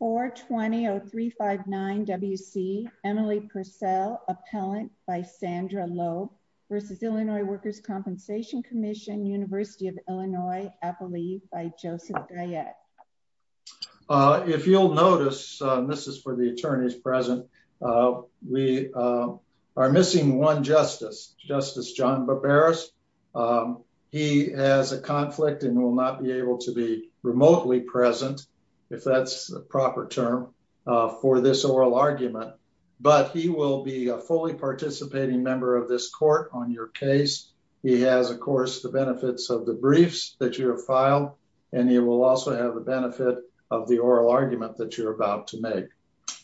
420-0359-WC, Emily Purcell, appellant by Sandra Loeb, v. Illinois Workers' Compensation Commission, University of Illinois, Appalachia, by Joseph Grayett. If you'll notice, this is for the attorneys present, we are missing one justice, Justice John Barberos. He has a conflict and will not be able to be remotely present, if that's the proper term, for this oral argument, but he will be a fully participating member of this court on your case. He has, of course, the benefits of the briefs that you have filed, and he will also have the benefit of the oral argument that you're about to make.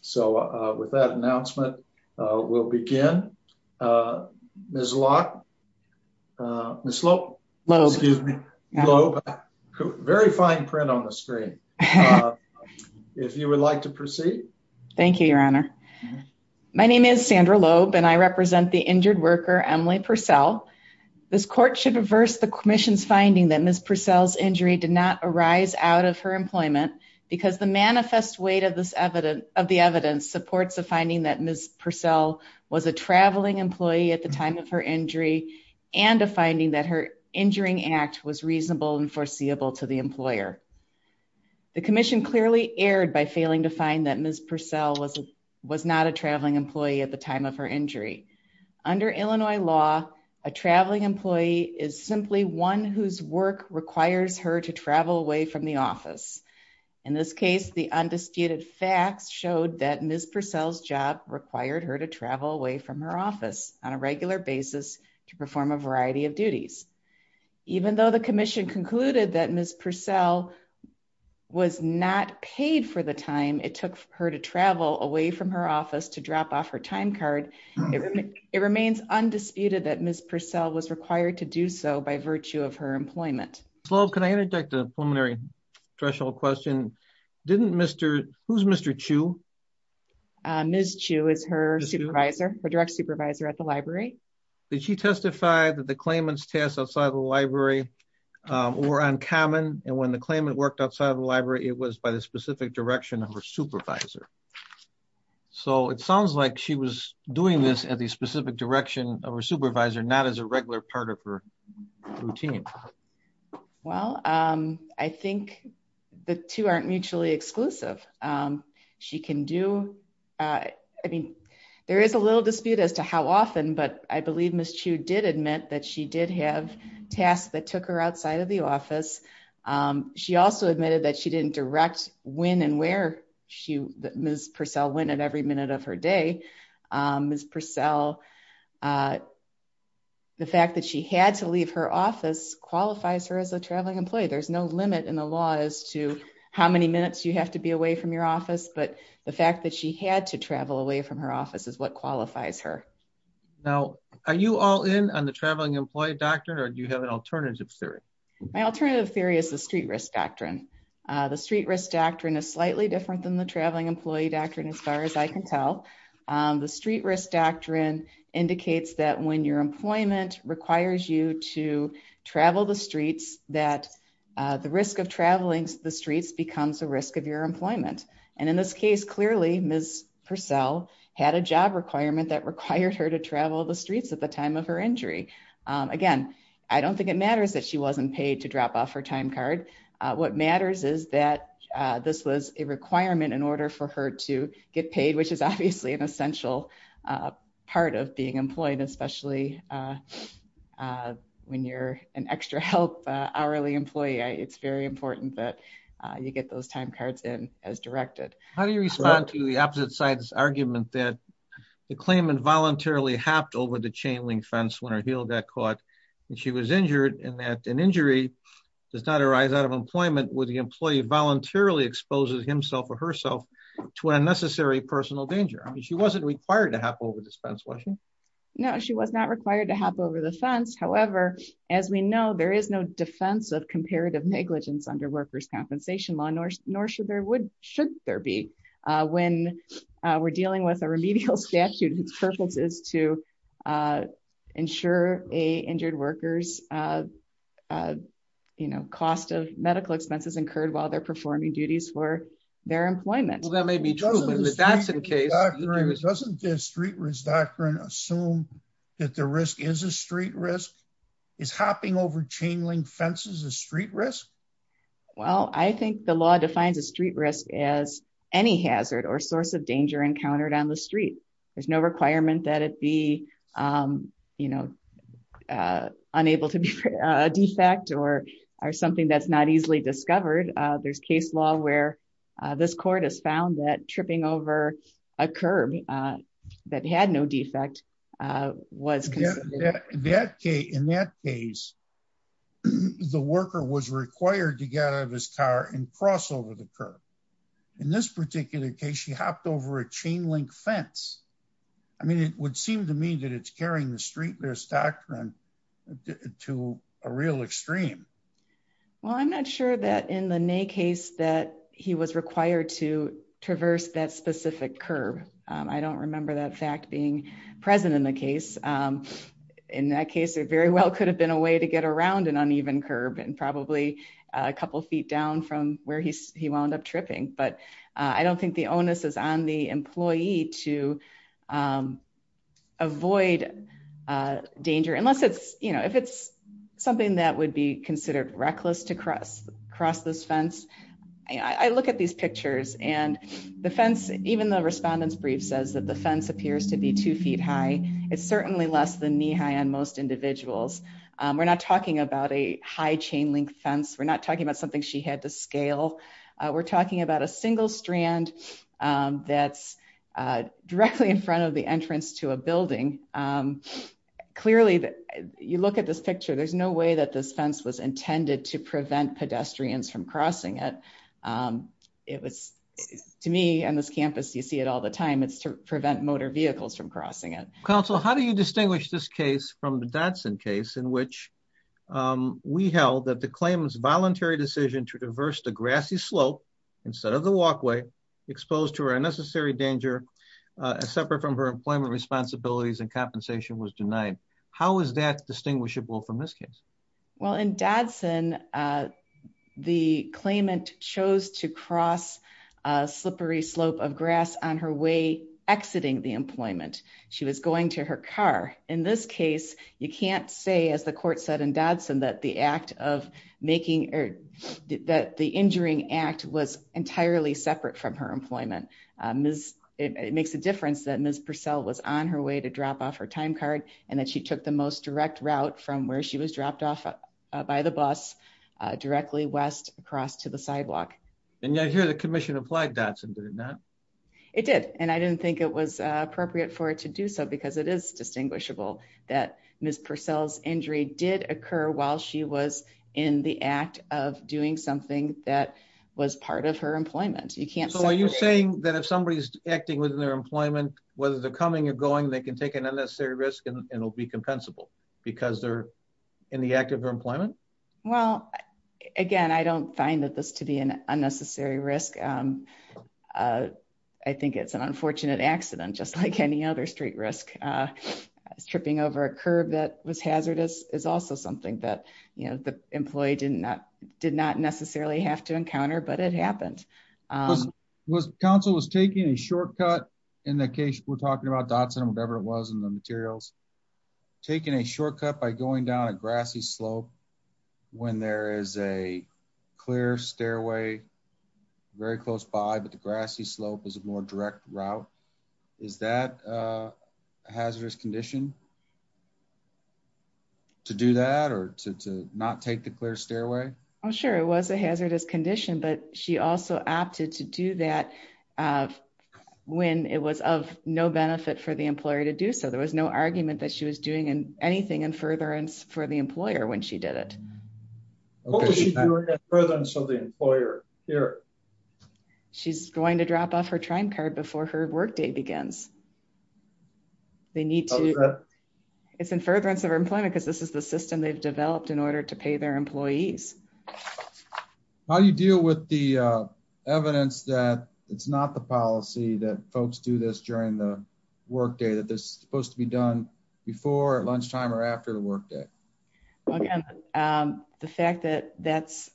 So, with that announcement, we'll begin. Ms. Loeb? Ms. Loeb, very fine print on the screen. If you would like to proceed. Thank you, Your Honor. My name is Sandra Loeb, and I represent the injured worker, Emily Purcell. This court should reverse the commission's finding that Ms. Purcell's injury did not arise out of her employment, because the manifest weight of the evidence supports the finding that Ms. Purcell was a traveling employee at the time of her injury, and a finding that her injuring act was reasonable and foreseeable to the employer. The commission clearly erred by failing to find that Ms. Purcell was not a traveling employee at the time of her injury. Under Illinois law, a traveling employee is simply one whose work requires her to travel away from the office. In this case, the undisputed facts showed that Ms. Purcell's job required her to travel away from her office on a regular basis to perform a variety of duties. Even though the commission concluded that Ms. Purcell was not paid for the time it took her to travel away from her office to drop off her time card, it remains undisputed that Ms. Purcell was required to do so by virtue of her employment. Can I interject a preliminary threshold question? Who's Mr. Chu? Ms. Chu is her supervisor, her direct supervisor at the library. Did she testify that the claimants tasks outside the library were uncommon, and when the claimant worked outside the library, it was by the specific direction of her supervisor? So it sounds like she was doing this at the specific direction of her supervisor, not as a regular part of her routine. Well, I think the two aren't mutually exclusive. She can do, I mean, there is a little dispute as to how often, but I believe Ms. Chu did admit that she did have tasks that took her outside of the office. She also admitted that she didn't direct when and where Ms. Purcell went at every time. I think Ms. Purcell, the fact that she had to leave her office qualifies her as a traveling employee. There's no limit in the law as to how many minutes you have to be away from your office, but the fact that she had to travel away from her office is what qualifies her. Now, are you all in on the traveling employee doctrine, or do you have an alternative theory? My alternative theory is the street risk doctrine. The street risk doctrine is slightly different than the traveling employee doctrine, as far as I can tell. The street risk doctrine indicates that when your employment requires you to travel the streets, that the risk of traveling the streets becomes a risk of your employment. And in this case, clearly Ms. Purcell had a job requirement that required her to travel the streets at the time of her injury. Again, I don't think it matters that she wasn't paid to drop off her time card. What matters is that this was a requirement in order for her to get paid, which is obviously an essential part of being employed, especially when you're an extra help hourly employee. It's very important that you get those time cards in as directed. How do you respond to the opposite side's argument that the claimant voluntarily hopped over the chain link fence when her heel got caught and she was injured, and that an injury does not arise out of employment when the employee voluntarily exposes himself or herself to unnecessary personal danger? I mean, she wasn't required to hop over this fence, was she? No, she was not required to hop over the fence. However, as we know, there is no defense of comparative negligence under workers' compensation law, nor should there be. When we're dealing with a remedial statute, its purpose is to ensure a injured worker's cost of medical expenses incurred while they're performing duties for their employment. Well, that may be true, but if that's the case... Doesn't the street risk doctrine assume that the risk is a street risk? Is hopping over chain link fences a street risk? Well, I think the law defines a street risk as any hazard or source of danger encountered on the street. There's no requirement that it be, you know, unable to be a defect or something that's not easily discovered. There's case law where this court has found that tripping over a curb that had no defect was... In that case, the worker was required to get out of his car and cross over the curb. In this particular case, she hopped over a chain link fence. I mean, it would seem to me that it's carrying the street risk doctrine to a real extreme. Well, I'm not sure that in the Ney case that he was required to traverse that specific curb. I don't remember that fact being present in the case. In that case, it very well could have been a way to get around an uneven curb and probably a couple of feet down from where he wound up tripping, but I don't think the onus is on the employee to avoid danger unless it's, you know, if it's something that would be considered reckless to cross this fence. I look at these pictures and the fence, even the respondent's brief says that the fence appears to be two feet high. It's certainly less than knee high on most individuals. We're not talking about a high chain link fence. We're not talking about something she had to scale. We're talking about a single strand that's directly in front of the entrance to a building. Clearly, you look at this picture, there's no way that this fence was intended to prevent pedestrians from crossing it. To me on this campus, you see it all the time. It's to prevent motor vehicles from crossing it. Counsel, how do you distinguish this case from the Dodson case in which we held that the claimant's voluntary decision to traverse the grassy slope instead of the walkway, exposed to her unnecessary danger, separate from her employment responsibilities and compensation was denied. How is that distinguishable from this case? Well, in Dodson, the claimant chose to cross a slippery slope of grass on her way exiting the employment. She was going to her car. In this case, you can't say as the court said in Dodson that the act of making or that the injuring act was entirely separate from her employment. It makes a difference that Ms. Purcell was on her way to drop off her time card and that she took the most direct route from where she was dropped off by the bus directly west across to the sidewalk. And yet here the commission applied Dodson, did it not? It did. And I didn't think it was appropriate for it to do so because it is distinguishable that Ms. Purcell's injury did occur while she was in the act of doing something that was part of her employment. So are you saying that if somebody's acting within their employment, whether they're coming or going, they can take an unnecessary risk and it'll be compensable because they're in the active employment? Well, again, I don't find that this to be an unnecessary risk. I think it's an unfortunate accident, just like any other street risk. Tripping over a curve that was hazardous is also something that, you know, the employee did not necessarily have to encounter, but it happened. Council was taking a shortcut in the case we're talking about, Dodson, whatever it was in the materials, taking a shortcut by going down a grassy slope when there is a clear stairway very close by, but the grassy slope is a more direct route. Is that a hazardous condition to do that or to not take the clear stairway? Well, sure, it was a hazardous condition, but she also opted to do that when it was of no benefit for the employer to do so. There was no argument that she was doing anything in furtherance for the employer when she did it. What was she doing in furtherance of the employer here? She's going to drop off her time card before her workday begins. They need to... It's in furtherance of her employment because this is the system they've been using. How do you deal with the evidence that it's not the policy that folks do this during the workday, that this is supposed to be done before lunchtime or after the workday? Well, again, the fact that that's...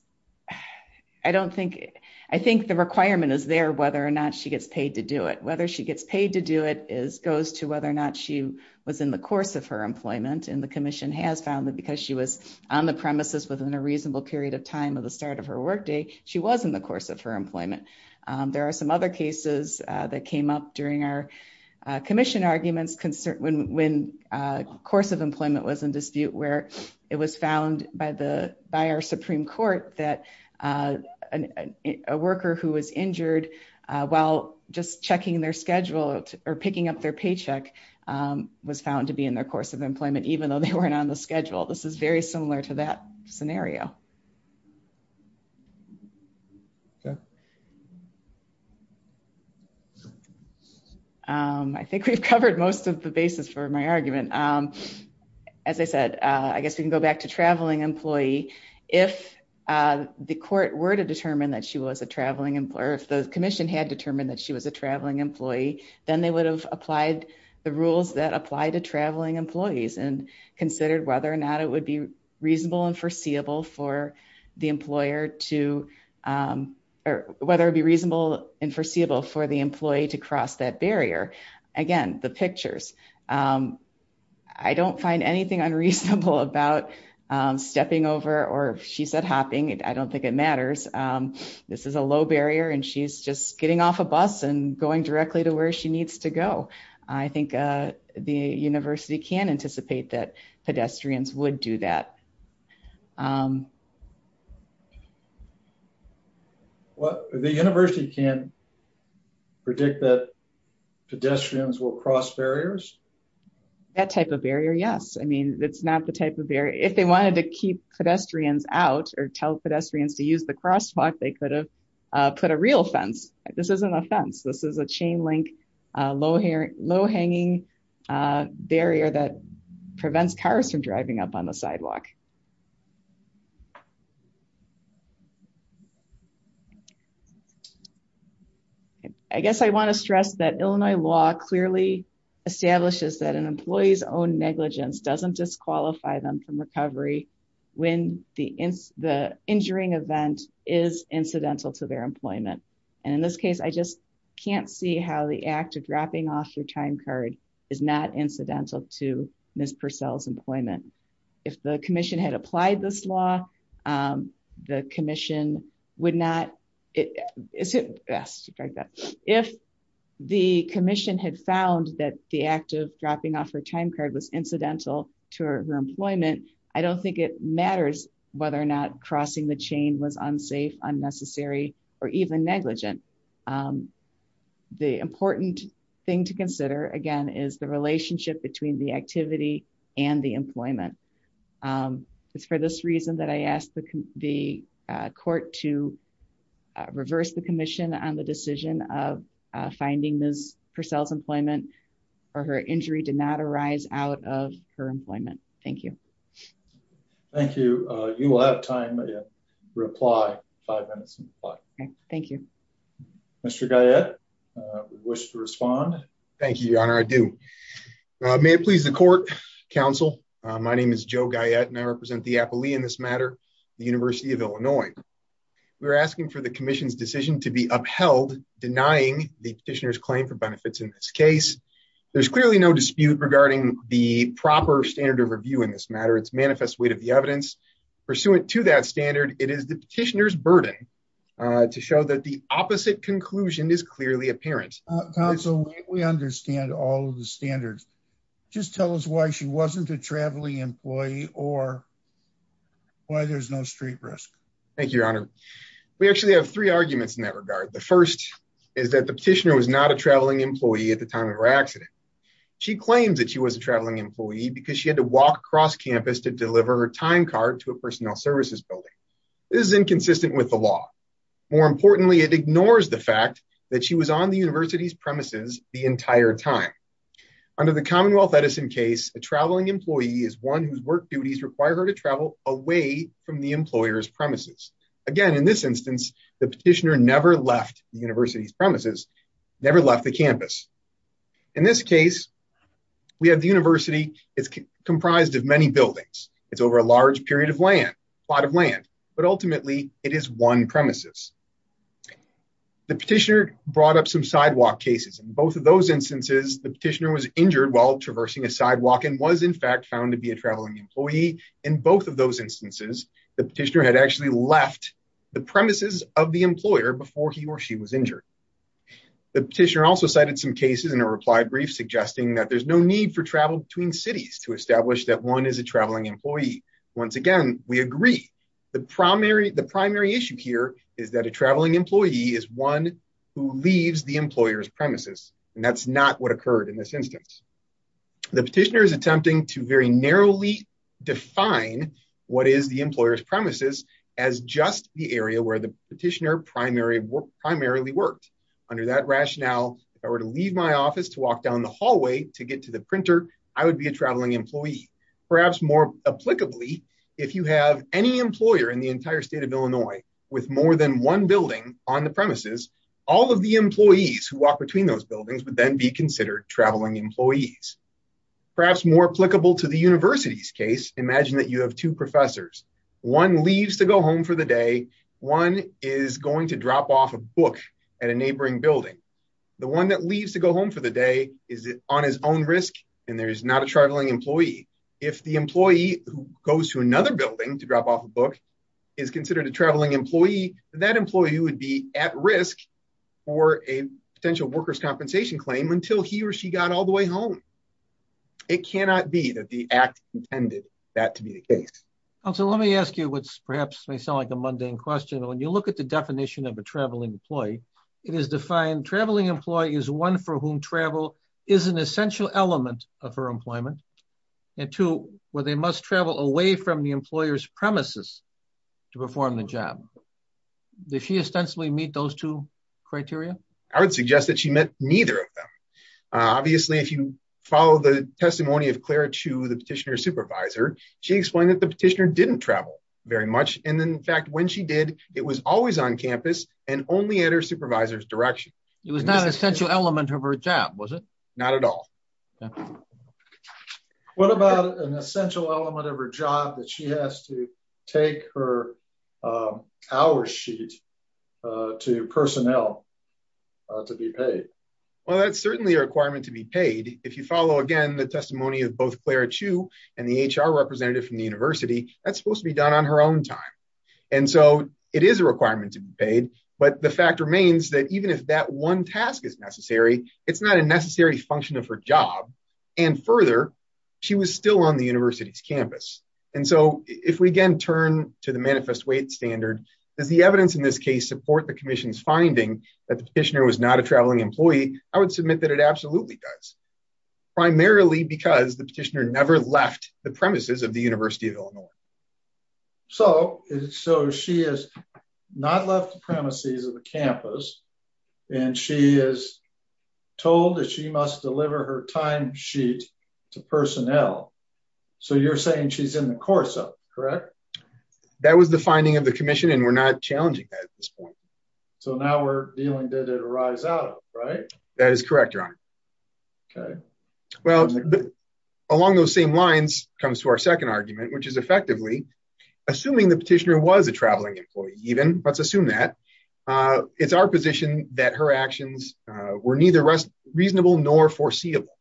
I don't think... I think the requirement is there whether or not she gets paid to do it. Whether she gets paid to do it goes to whether or not she was in the course of her employment, and the commission has found that because she was on the premises within a time of the start of her workday, she was in the course of her employment. There are some other cases that came up during our commission arguments when course of employment was in dispute where it was found by our Supreme Court that a worker who was injured while just checking their schedule or picking up their paycheck was found to be in their course of employment, even though they weren't on the schedule. This is very similar to that scenario. I think we've covered most of the basis for my argument. As I said, I guess we can go back to traveling employee. If the court were to determine that she was a traveling employer, if the commission had determined that she was a traveling employee, then they would have applied the rules that apply to traveling employees and considered whether or not it would be reasonable and foreseeable for the employee to cross that barrier. Again, the pictures. I don't find anything unreasonable about stepping over or she said hopping. I don't think it matters. This is a low barrier and she's just getting off a bus and going directly to where she needs to go. I think the university can anticipate that pedestrians would do that. The university can predict that pedestrians will cross barriers? That type of barrier, yes. It's not the type of barrier. If they wanted to keep pedestrians out or tell pedestrians to use the crosswalk, they could have put a real fence. This isn't a fence. This is a chain link, low hanging barrier that prevents cars from driving up on the sidewalk. I guess I want to stress that Illinois law clearly establishes that an employee's own negligence doesn't disqualify them from recovery when the injuring event is incidental to their employment. In this case, I just can't see how the act of dropping off your time card is not incidental to Ms. Purcell's employment. If the commission had applied this law, the commission would not... If the commission had found that the act of dropping off her time card was incidental to her employment, I don't think it matters whether or not crossing the chain was unsafe, unnecessary, or even negligent. The important thing to consider, again, is the court to reverse the commission on the decision of finding Ms. Purcell's employment or her injury did not arise out of her employment. Thank you. Thank you. You will have time to reply. Five minutes to reply. Thank you. Mr. Guyette, wish to respond? Thank you, Your Honor. I do. May it please the court, counsel. My name is Joe Guyette, and I represent the appellee in this matter, the University of Illinois. We're asking for the commission's decision to be upheld, denying the petitioner's claim for benefits in this case. There's clearly no dispute regarding the proper standard of review in this matter. It's manifest weight of the evidence. Pursuant to that standard, it is the petitioner's burden to show that the opposite conclusion is clearly apparent. Counsel, we understand all of the standards. Just tell us why she wasn't a traveling employee or why there's no street risk. Thank you, Your Honor. We actually have three arguments in that regard. The first is that the petitioner was not a traveling employee at the time of her accident. She claims that she was a traveling employee because she had to walk across campus to deliver her time card to a personnel services building. This is inconsistent with the law. More importantly, it ignores the fact that she was on the university's premises the entire time. Under the Commonwealth Edison case, a traveling employee is one whose work duties require her to travel away from the employer's premises. Again, in this instance, the petitioner never left the university's premises, never left the campus. In this case, we have the university is comprised of many buildings. It's over a large period of land, a lot of land, but ultimately it is one In both of those instances, the petitioner was injured while traversing a sidewalk and was, in fact, found to be a traveling employee. In both of those instances, the petitioner had actually left the premises of the employer before he or she was injured. The petitioner also cited some cases in a reply brief suggesting that there's no need for travel between cities to establish that one is a traveling employee. Once again, we agree. The primary issue here is that a traveling employee is one who leaves the employer's premises, and that's not what occurred in this instance. The petitioner is attempting to very narrowly define what is the employer's premises as just the area where the petitioner primarily worked. Under that rationale, if I were to leave my office to walk down the hallway to get to the printer, I would be a traveling employee. Perhaps more applicably, if you have any employer in the entire state of Illinois with more than one building on the premises, all of the employees who walk between those buildings would then be considered traveling employees. Perhaps more applicable to the university's case, imagine that you have two professors. One leaves to go home for the day. One is going to drop off a book at a neighboring building. The one that leaves to go home for the day is on his own risk, and there is not a traveling employee. If the employee who goes to another building to drop off a book is considered a traveling employee, that employee would be at risk for a potential worker's compensation claim until he or she got all the way home. It cannot be that the act intended that to be the case. Counselor, let me ask you what perhaps may sound like a mundane question. When you look at the definition of a traveling employee, it is defined, traveling employee is one for whom travel is an essential element of her employment, and two, where they must travel away from the employer's premises to perform the job. Does she ostensibly meet those two criteria? I would suggest that she met neither of them. Obviously, if you follow the testimony of Clara Chu, the petitioner supervisor, she explained that the petitioner didn't travel very much, and in fact, when she did, it was always on campus and only at her supervisor's direction. It was not an essential element of her job, was it? Not at all. Okay. What about an essential element of her job that she has to take her hour sheet to personnel to be paid? Well, that's certainly a requirement to be paid. If you follow, again, the testimony of both Clara Chu and the HR representative from the university, that's supposed to be done on her own time, and so it is a requirement to be paid, but the fact remains that even if that one task is necessary, it's not a necessary function of her job, and further, she was still on the university's campus, and so if we again turn to the manifest weight standard, does the evidence in this case support the commission's finding that the petitioner was not a traveling employee? I would submit that it absolutely does, primarily because the petitioner never left the premises of the University of told that she must deliver her time sheet to personnel, so you're saying she's in the course of correct? That was the finding of the commission, and we're not challenging that at this point. So now we're dealing, did it arise out of it, right? That is correct, your honor. Okay. Well, along those same lines comes to our second argument, which is effectively, assuming the petitioner was a traveling employee, even, let's assume that, it's our position that her actions were neither reasonable nor foreseeable,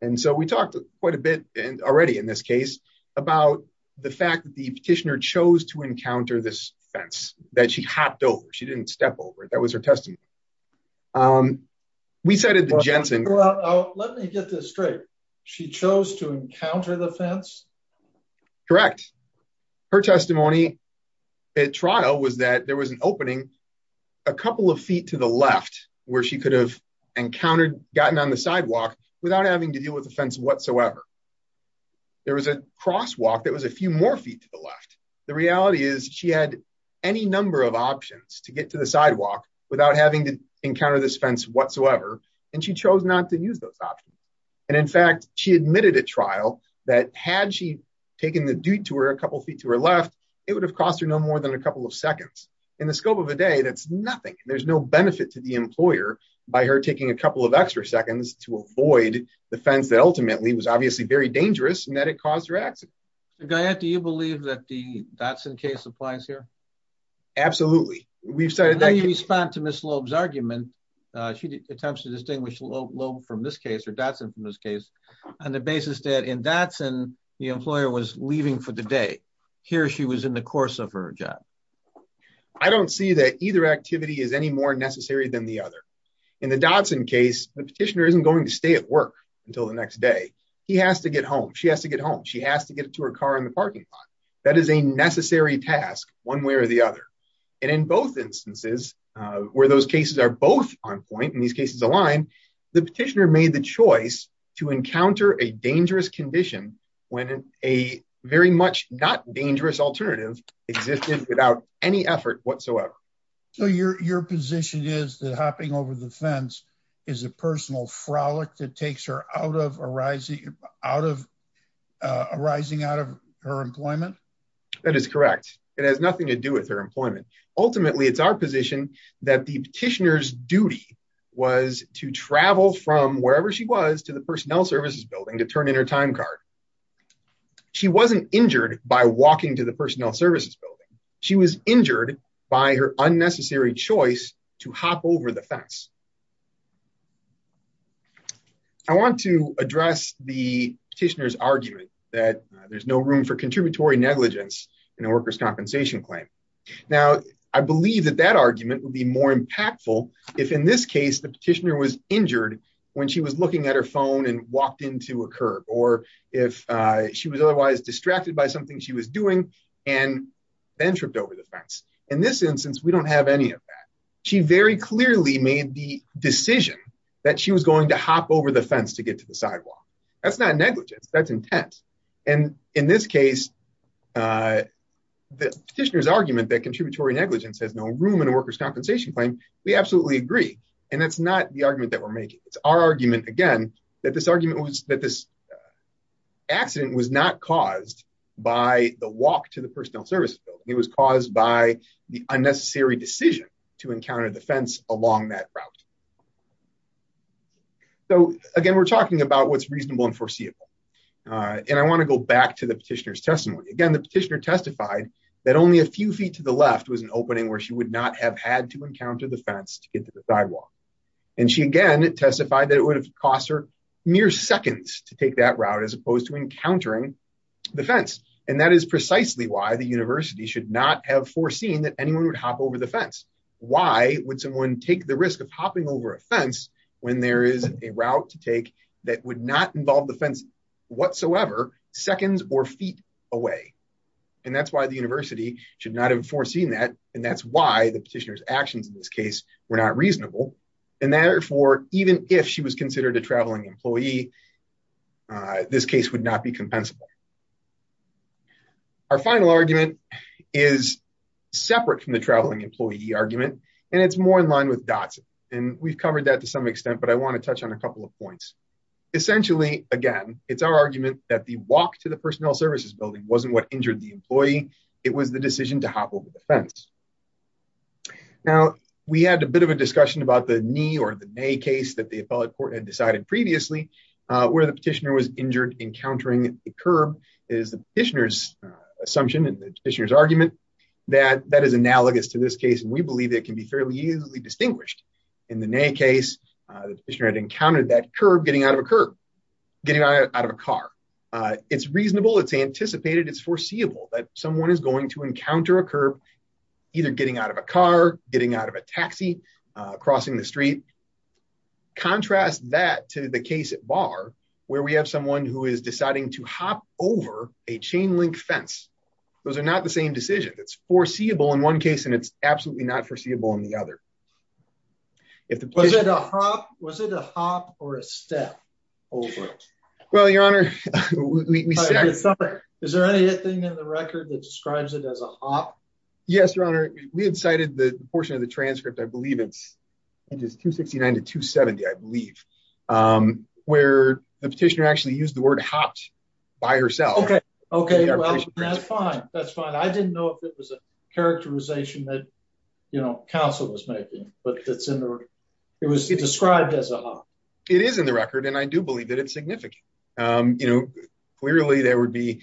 and so we talked quite a bit already in this case about the fact that the petitioner chose to encounter this fence, that she hopped over, she didn't step over it, that was her testimony. We cited the Jensen. Let me get this straight, she chose to encounter the fence? Correct. Her testimony at trial was that there was an opening a couple of feet to the left where she could have encountered, gotten on the sidewalk without having to deal with the fence whatsoever. There was a crosswalk that was a few more feet to the left. The reality is she had any number of options to get to the sidewalk without having to encounter this fence whatsoever, and she chose not to use those options. And in fact, she admitted at trial that had she taken the detour a couple feet to her left, it would have cost her no more than a nothing. There's no benefit to the employer by her taking a couple of extra seconds to avoid the fence that ultimately was obviously very dangerous, and that it caused her accident. Guyette, do you believe that the Dotson case applies here? Absolutely. Now you respond to Ms. Loeb's argument. She attempts to distinguish Loeb from this case, or Dotson from this case, on the basis that in Dotson, the employer was leaving for the day. Here she was in the course of her job. I don't see that either activity is any more necessary than the other. In the Dotson case, the petitioner isn't going to stay at work until the next day. He has to get home. She has to get home. She has to get to her car in the parking lot. That is a necessary task one way or the other. And in both instances, where those cases are both on point, and these cases align, the petitioner made the choice to encounter a dangerous condition when a very much not alternative existed without any effort whatsoever. So your position is that hopping over the fence is a personal frolic that takes her out of arising out of her employment? That is correct. It has nothing to do with her employment. Ultimately, it's our position that the petitioner's duty was to travel from wherever she was to the personnel services to turn in her time card. She wasn't injured by walking to the personnel services building. She was injured by her unnecessary choice to hop over the fence. I want to address the petitioner's argument that there's no room for contributory negligence in a worker's compensation claim. Now, I believe that that argument would be more impactful if in this case the petitioner was injured when she was looking at her phone and walked into a curb or if she was otherwise distracted by something she was doing and then tripped over the fence. In this instance, we don't have any of that. She very clearly made the decision that she was going to hop over the fence to get to the sidewalk. That's not negligence. That's intent. And in this case, the petitioner's argument that contributory negligence has no room in a worker's compensation claim, we absolutely agree. And that's not the argument that we're making. It's our argument, again, that this argument was that this accident was not caused by the walk to the personnel services building. It was caused by the unnecessary decision to encounter the fence along that route. So again, we're talking about what's reasonable and foreseeable. And I want to go back to the petitioner's testimony. Again, the petitioner testified that only a few feet to the left was an opening where she would not have had to encounter the fence to get to the sidewalk. And she again testified that it would have cost her mere seconds to take that route as opposed to encountering the fence. And that is precisely why the university should not have foreseen that anyone would hop over the fence. Why would someone take the risk of hopping over a fence when there is a route to take that would not involve the fence whatsoever seconds or feet away. And that's why the university should not have foreseen that. And that's why the petitioner's actions in this case were not reasonable. And therefore, even if she was considered a traveling employee, this case would not be compensable. Our final argument is separate from the traveling employee argument, and it's more in line with Dotson. And we've covered that to some extent, but I want to touch on a couple of points. Essentially, again, it's our argument that the walk to the personnel services building wasn't what injured the employee. It was the decision to hop over the fence. Now, we had a bit of a discussion about the knee or the knee case that the appellate court had decided previously, where the petitioner was injured encountering the curb is the petitioner's assumption and the petitioner's argument that that is analogous to this case. And we believe it can be fairly easily distinguished. In the knee case, the petitioner had encountered that curb getting out of a curb, getting out of a car. It's reasonable. It's anticipated. It's foreseeable that someone is going to encounter a curb, either getting out of a car, getting out of a taxi, crossing the street. Contrast that to the case at bar, where we have someone who is deciding to hop over a chain link fence. Those are not the same decision. It's foreseeable in one case, and it's absolutely not foreseeable in the other. Was it a hop or a step? Well, your honor, is there anything in the record that describes it as a hop? Yes, your honor. We had cited the portion of the transcript, I believe it's 269 to 270, I believe, where the petitioner actually used the word hopped by herself. Okay, well, that's fine. That's fine. I didn't know if it was a characterization that, you know, counsel was making, but it's in there. It was described as a hop. It is in the record, and I do believe that it's significant. You know, clearly, there would be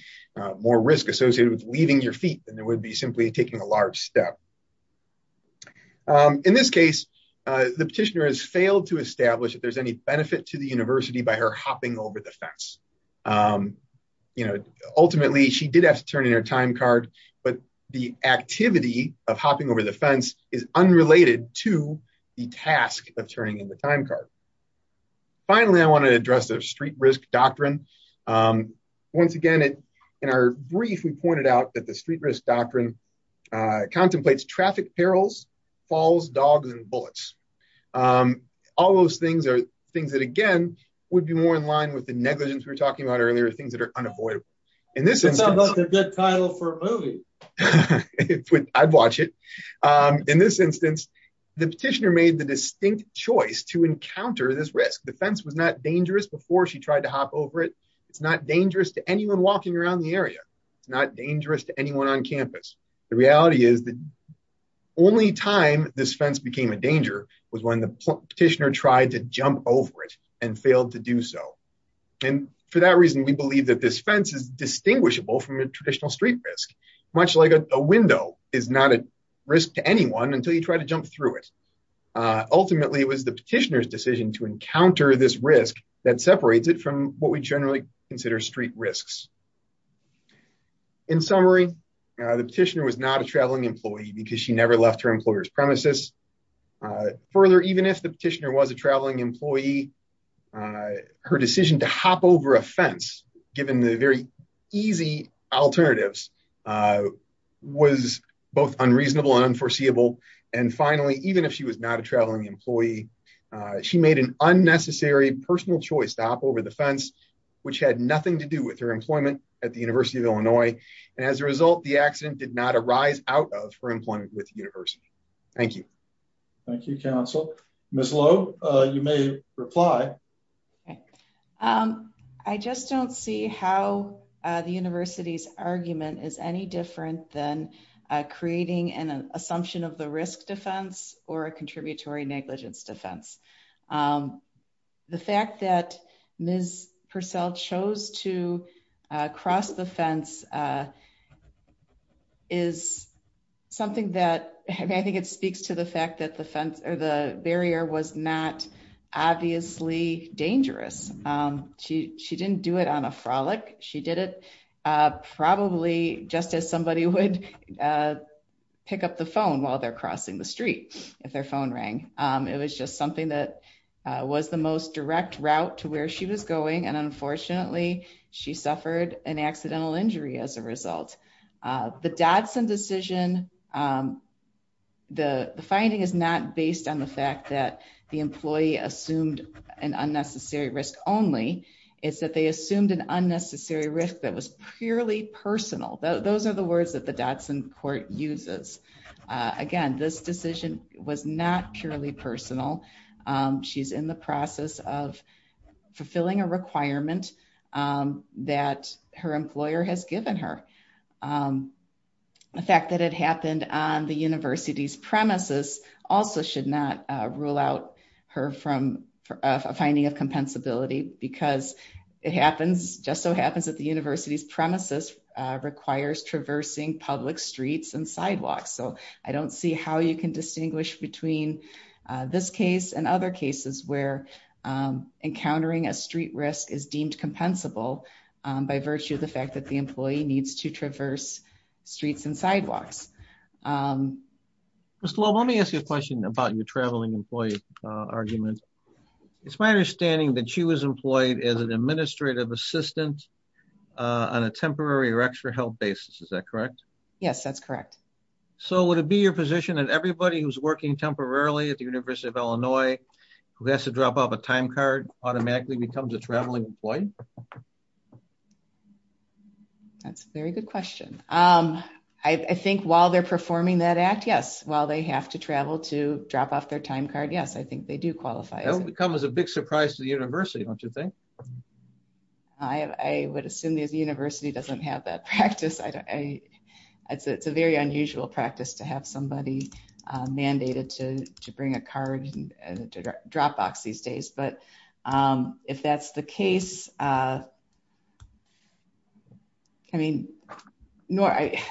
more risk associated with leaving your feet than there would be simply taking a large step. In this case, the petitioner has failed to establish if there's any benefit to the fence. You know, ultimately, she did have to turn in her time card, but the activity of hopping over the fence is unrelated to the task of turning in the time card. Finally, I want to address the street risk doctrine. Once again, in our brief, we pointed out that the street risk doctrine contemplates traffic perils, falls, dogs, and bullets. All those things are things that, again, would be more in line with the negligence we were talking about earlier, things that are unavoidable. In this instance... That sounds like a good title for a movie. I'd watch it. In this instance, the petitioner made the distinct choice to encounter this risk. The fence was not dangerous before she tried to hop over it. It's not dangerous to anyone walking around the area. It's not dangerous to anyone on campus. The reality is that only time this fence became a danger was when the petitioner tried to jump over it and failed to do so. And for that reason, we believe that this fence is distinguishable from a traditional street risk, much like a window is not a risk to anyone until you try to jump through it. Ultimately, it was the petitioner's decision to encounter this risk that separates it from what we generally consider street risks. In summary, the petitioner was not a traveling employee because she never left her employer's premises. Further, even if the petitioner was a traveling employee, her decision to hop over a fence, given the very easy alternatives, was both unreasonable and unforeseeable. And finally, even if she was not a traveling employee, she made an unnecessary personal choice to hop over the fence, which had nothing to do with her employment at the University of Illinois. And as a result, the petitioner was not a traveling employee. So, I'm not sure that there's any other reason out of her employment with the University. Thank you. Thank you, counsel. Ms. Lowe, you may reply. I just don't see how the University's argument is any different than creating an assumption of something that, I mean, I think it speaks to the fact that the fence or the barrier was not obviously dangerous. She didn't do it on a frolic. She did it probably just as somebody would pick up the phone while they're crossing the street, if their phone rang. It was just something that was the most direct route to where she was going, and unfortunately, she suffered an unnecessary risk. The finding is not based on the fact that the employee assumed an unnecessary risk only. It's that they assumed an unnecessary risk that was purely personal. Those are the words that the Dotson court uses. Again, this decision was not purely personal. She's in the on the University's premises also should not rule out her from a finding of compensability, because it just so happens that the University's premises requires traversing public streets and sidewalks. So, I don't see how you can distinguish between this case and other cases where encountering a street risk is deemed compensable by virtue of the fact that the employee needs to be there. Mr. Loeb, let me ask you a question about your traveling employee argument. It's my understanding that she was employed as an administrative assistant on a temporary or extra held basis. Is that correct? Yes, that's correct. So, would it be your position that everybody who's working temporarily at the University of Illinois who has to drop off a time card automatically becomes a traveling employee? That's a very good question. I think while they're performing that act, yes. While they have to travel to drop off their time card, yes, I think they do qualify. That would come as a big surprise to the University, don't you think? I would assume the University doesn't have that practice. It's a very unusual practice to have somebody mandated to bring a card to drop off these days. But if that's the case, if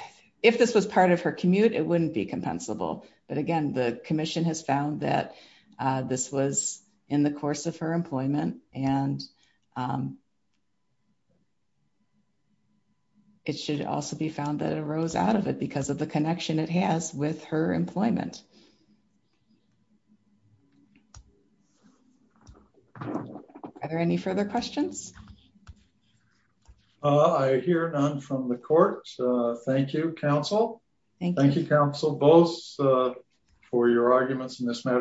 this was part of her commute, it wouldn't be compensable. But again, the commission has found that this was in the course of her employment and it should also be found that it arose out of it because of the connection it has with her employment. Are there any further questions? I hear none from the court. Thank you, counsel. Thank you, counsel, both for your arguments in this matter.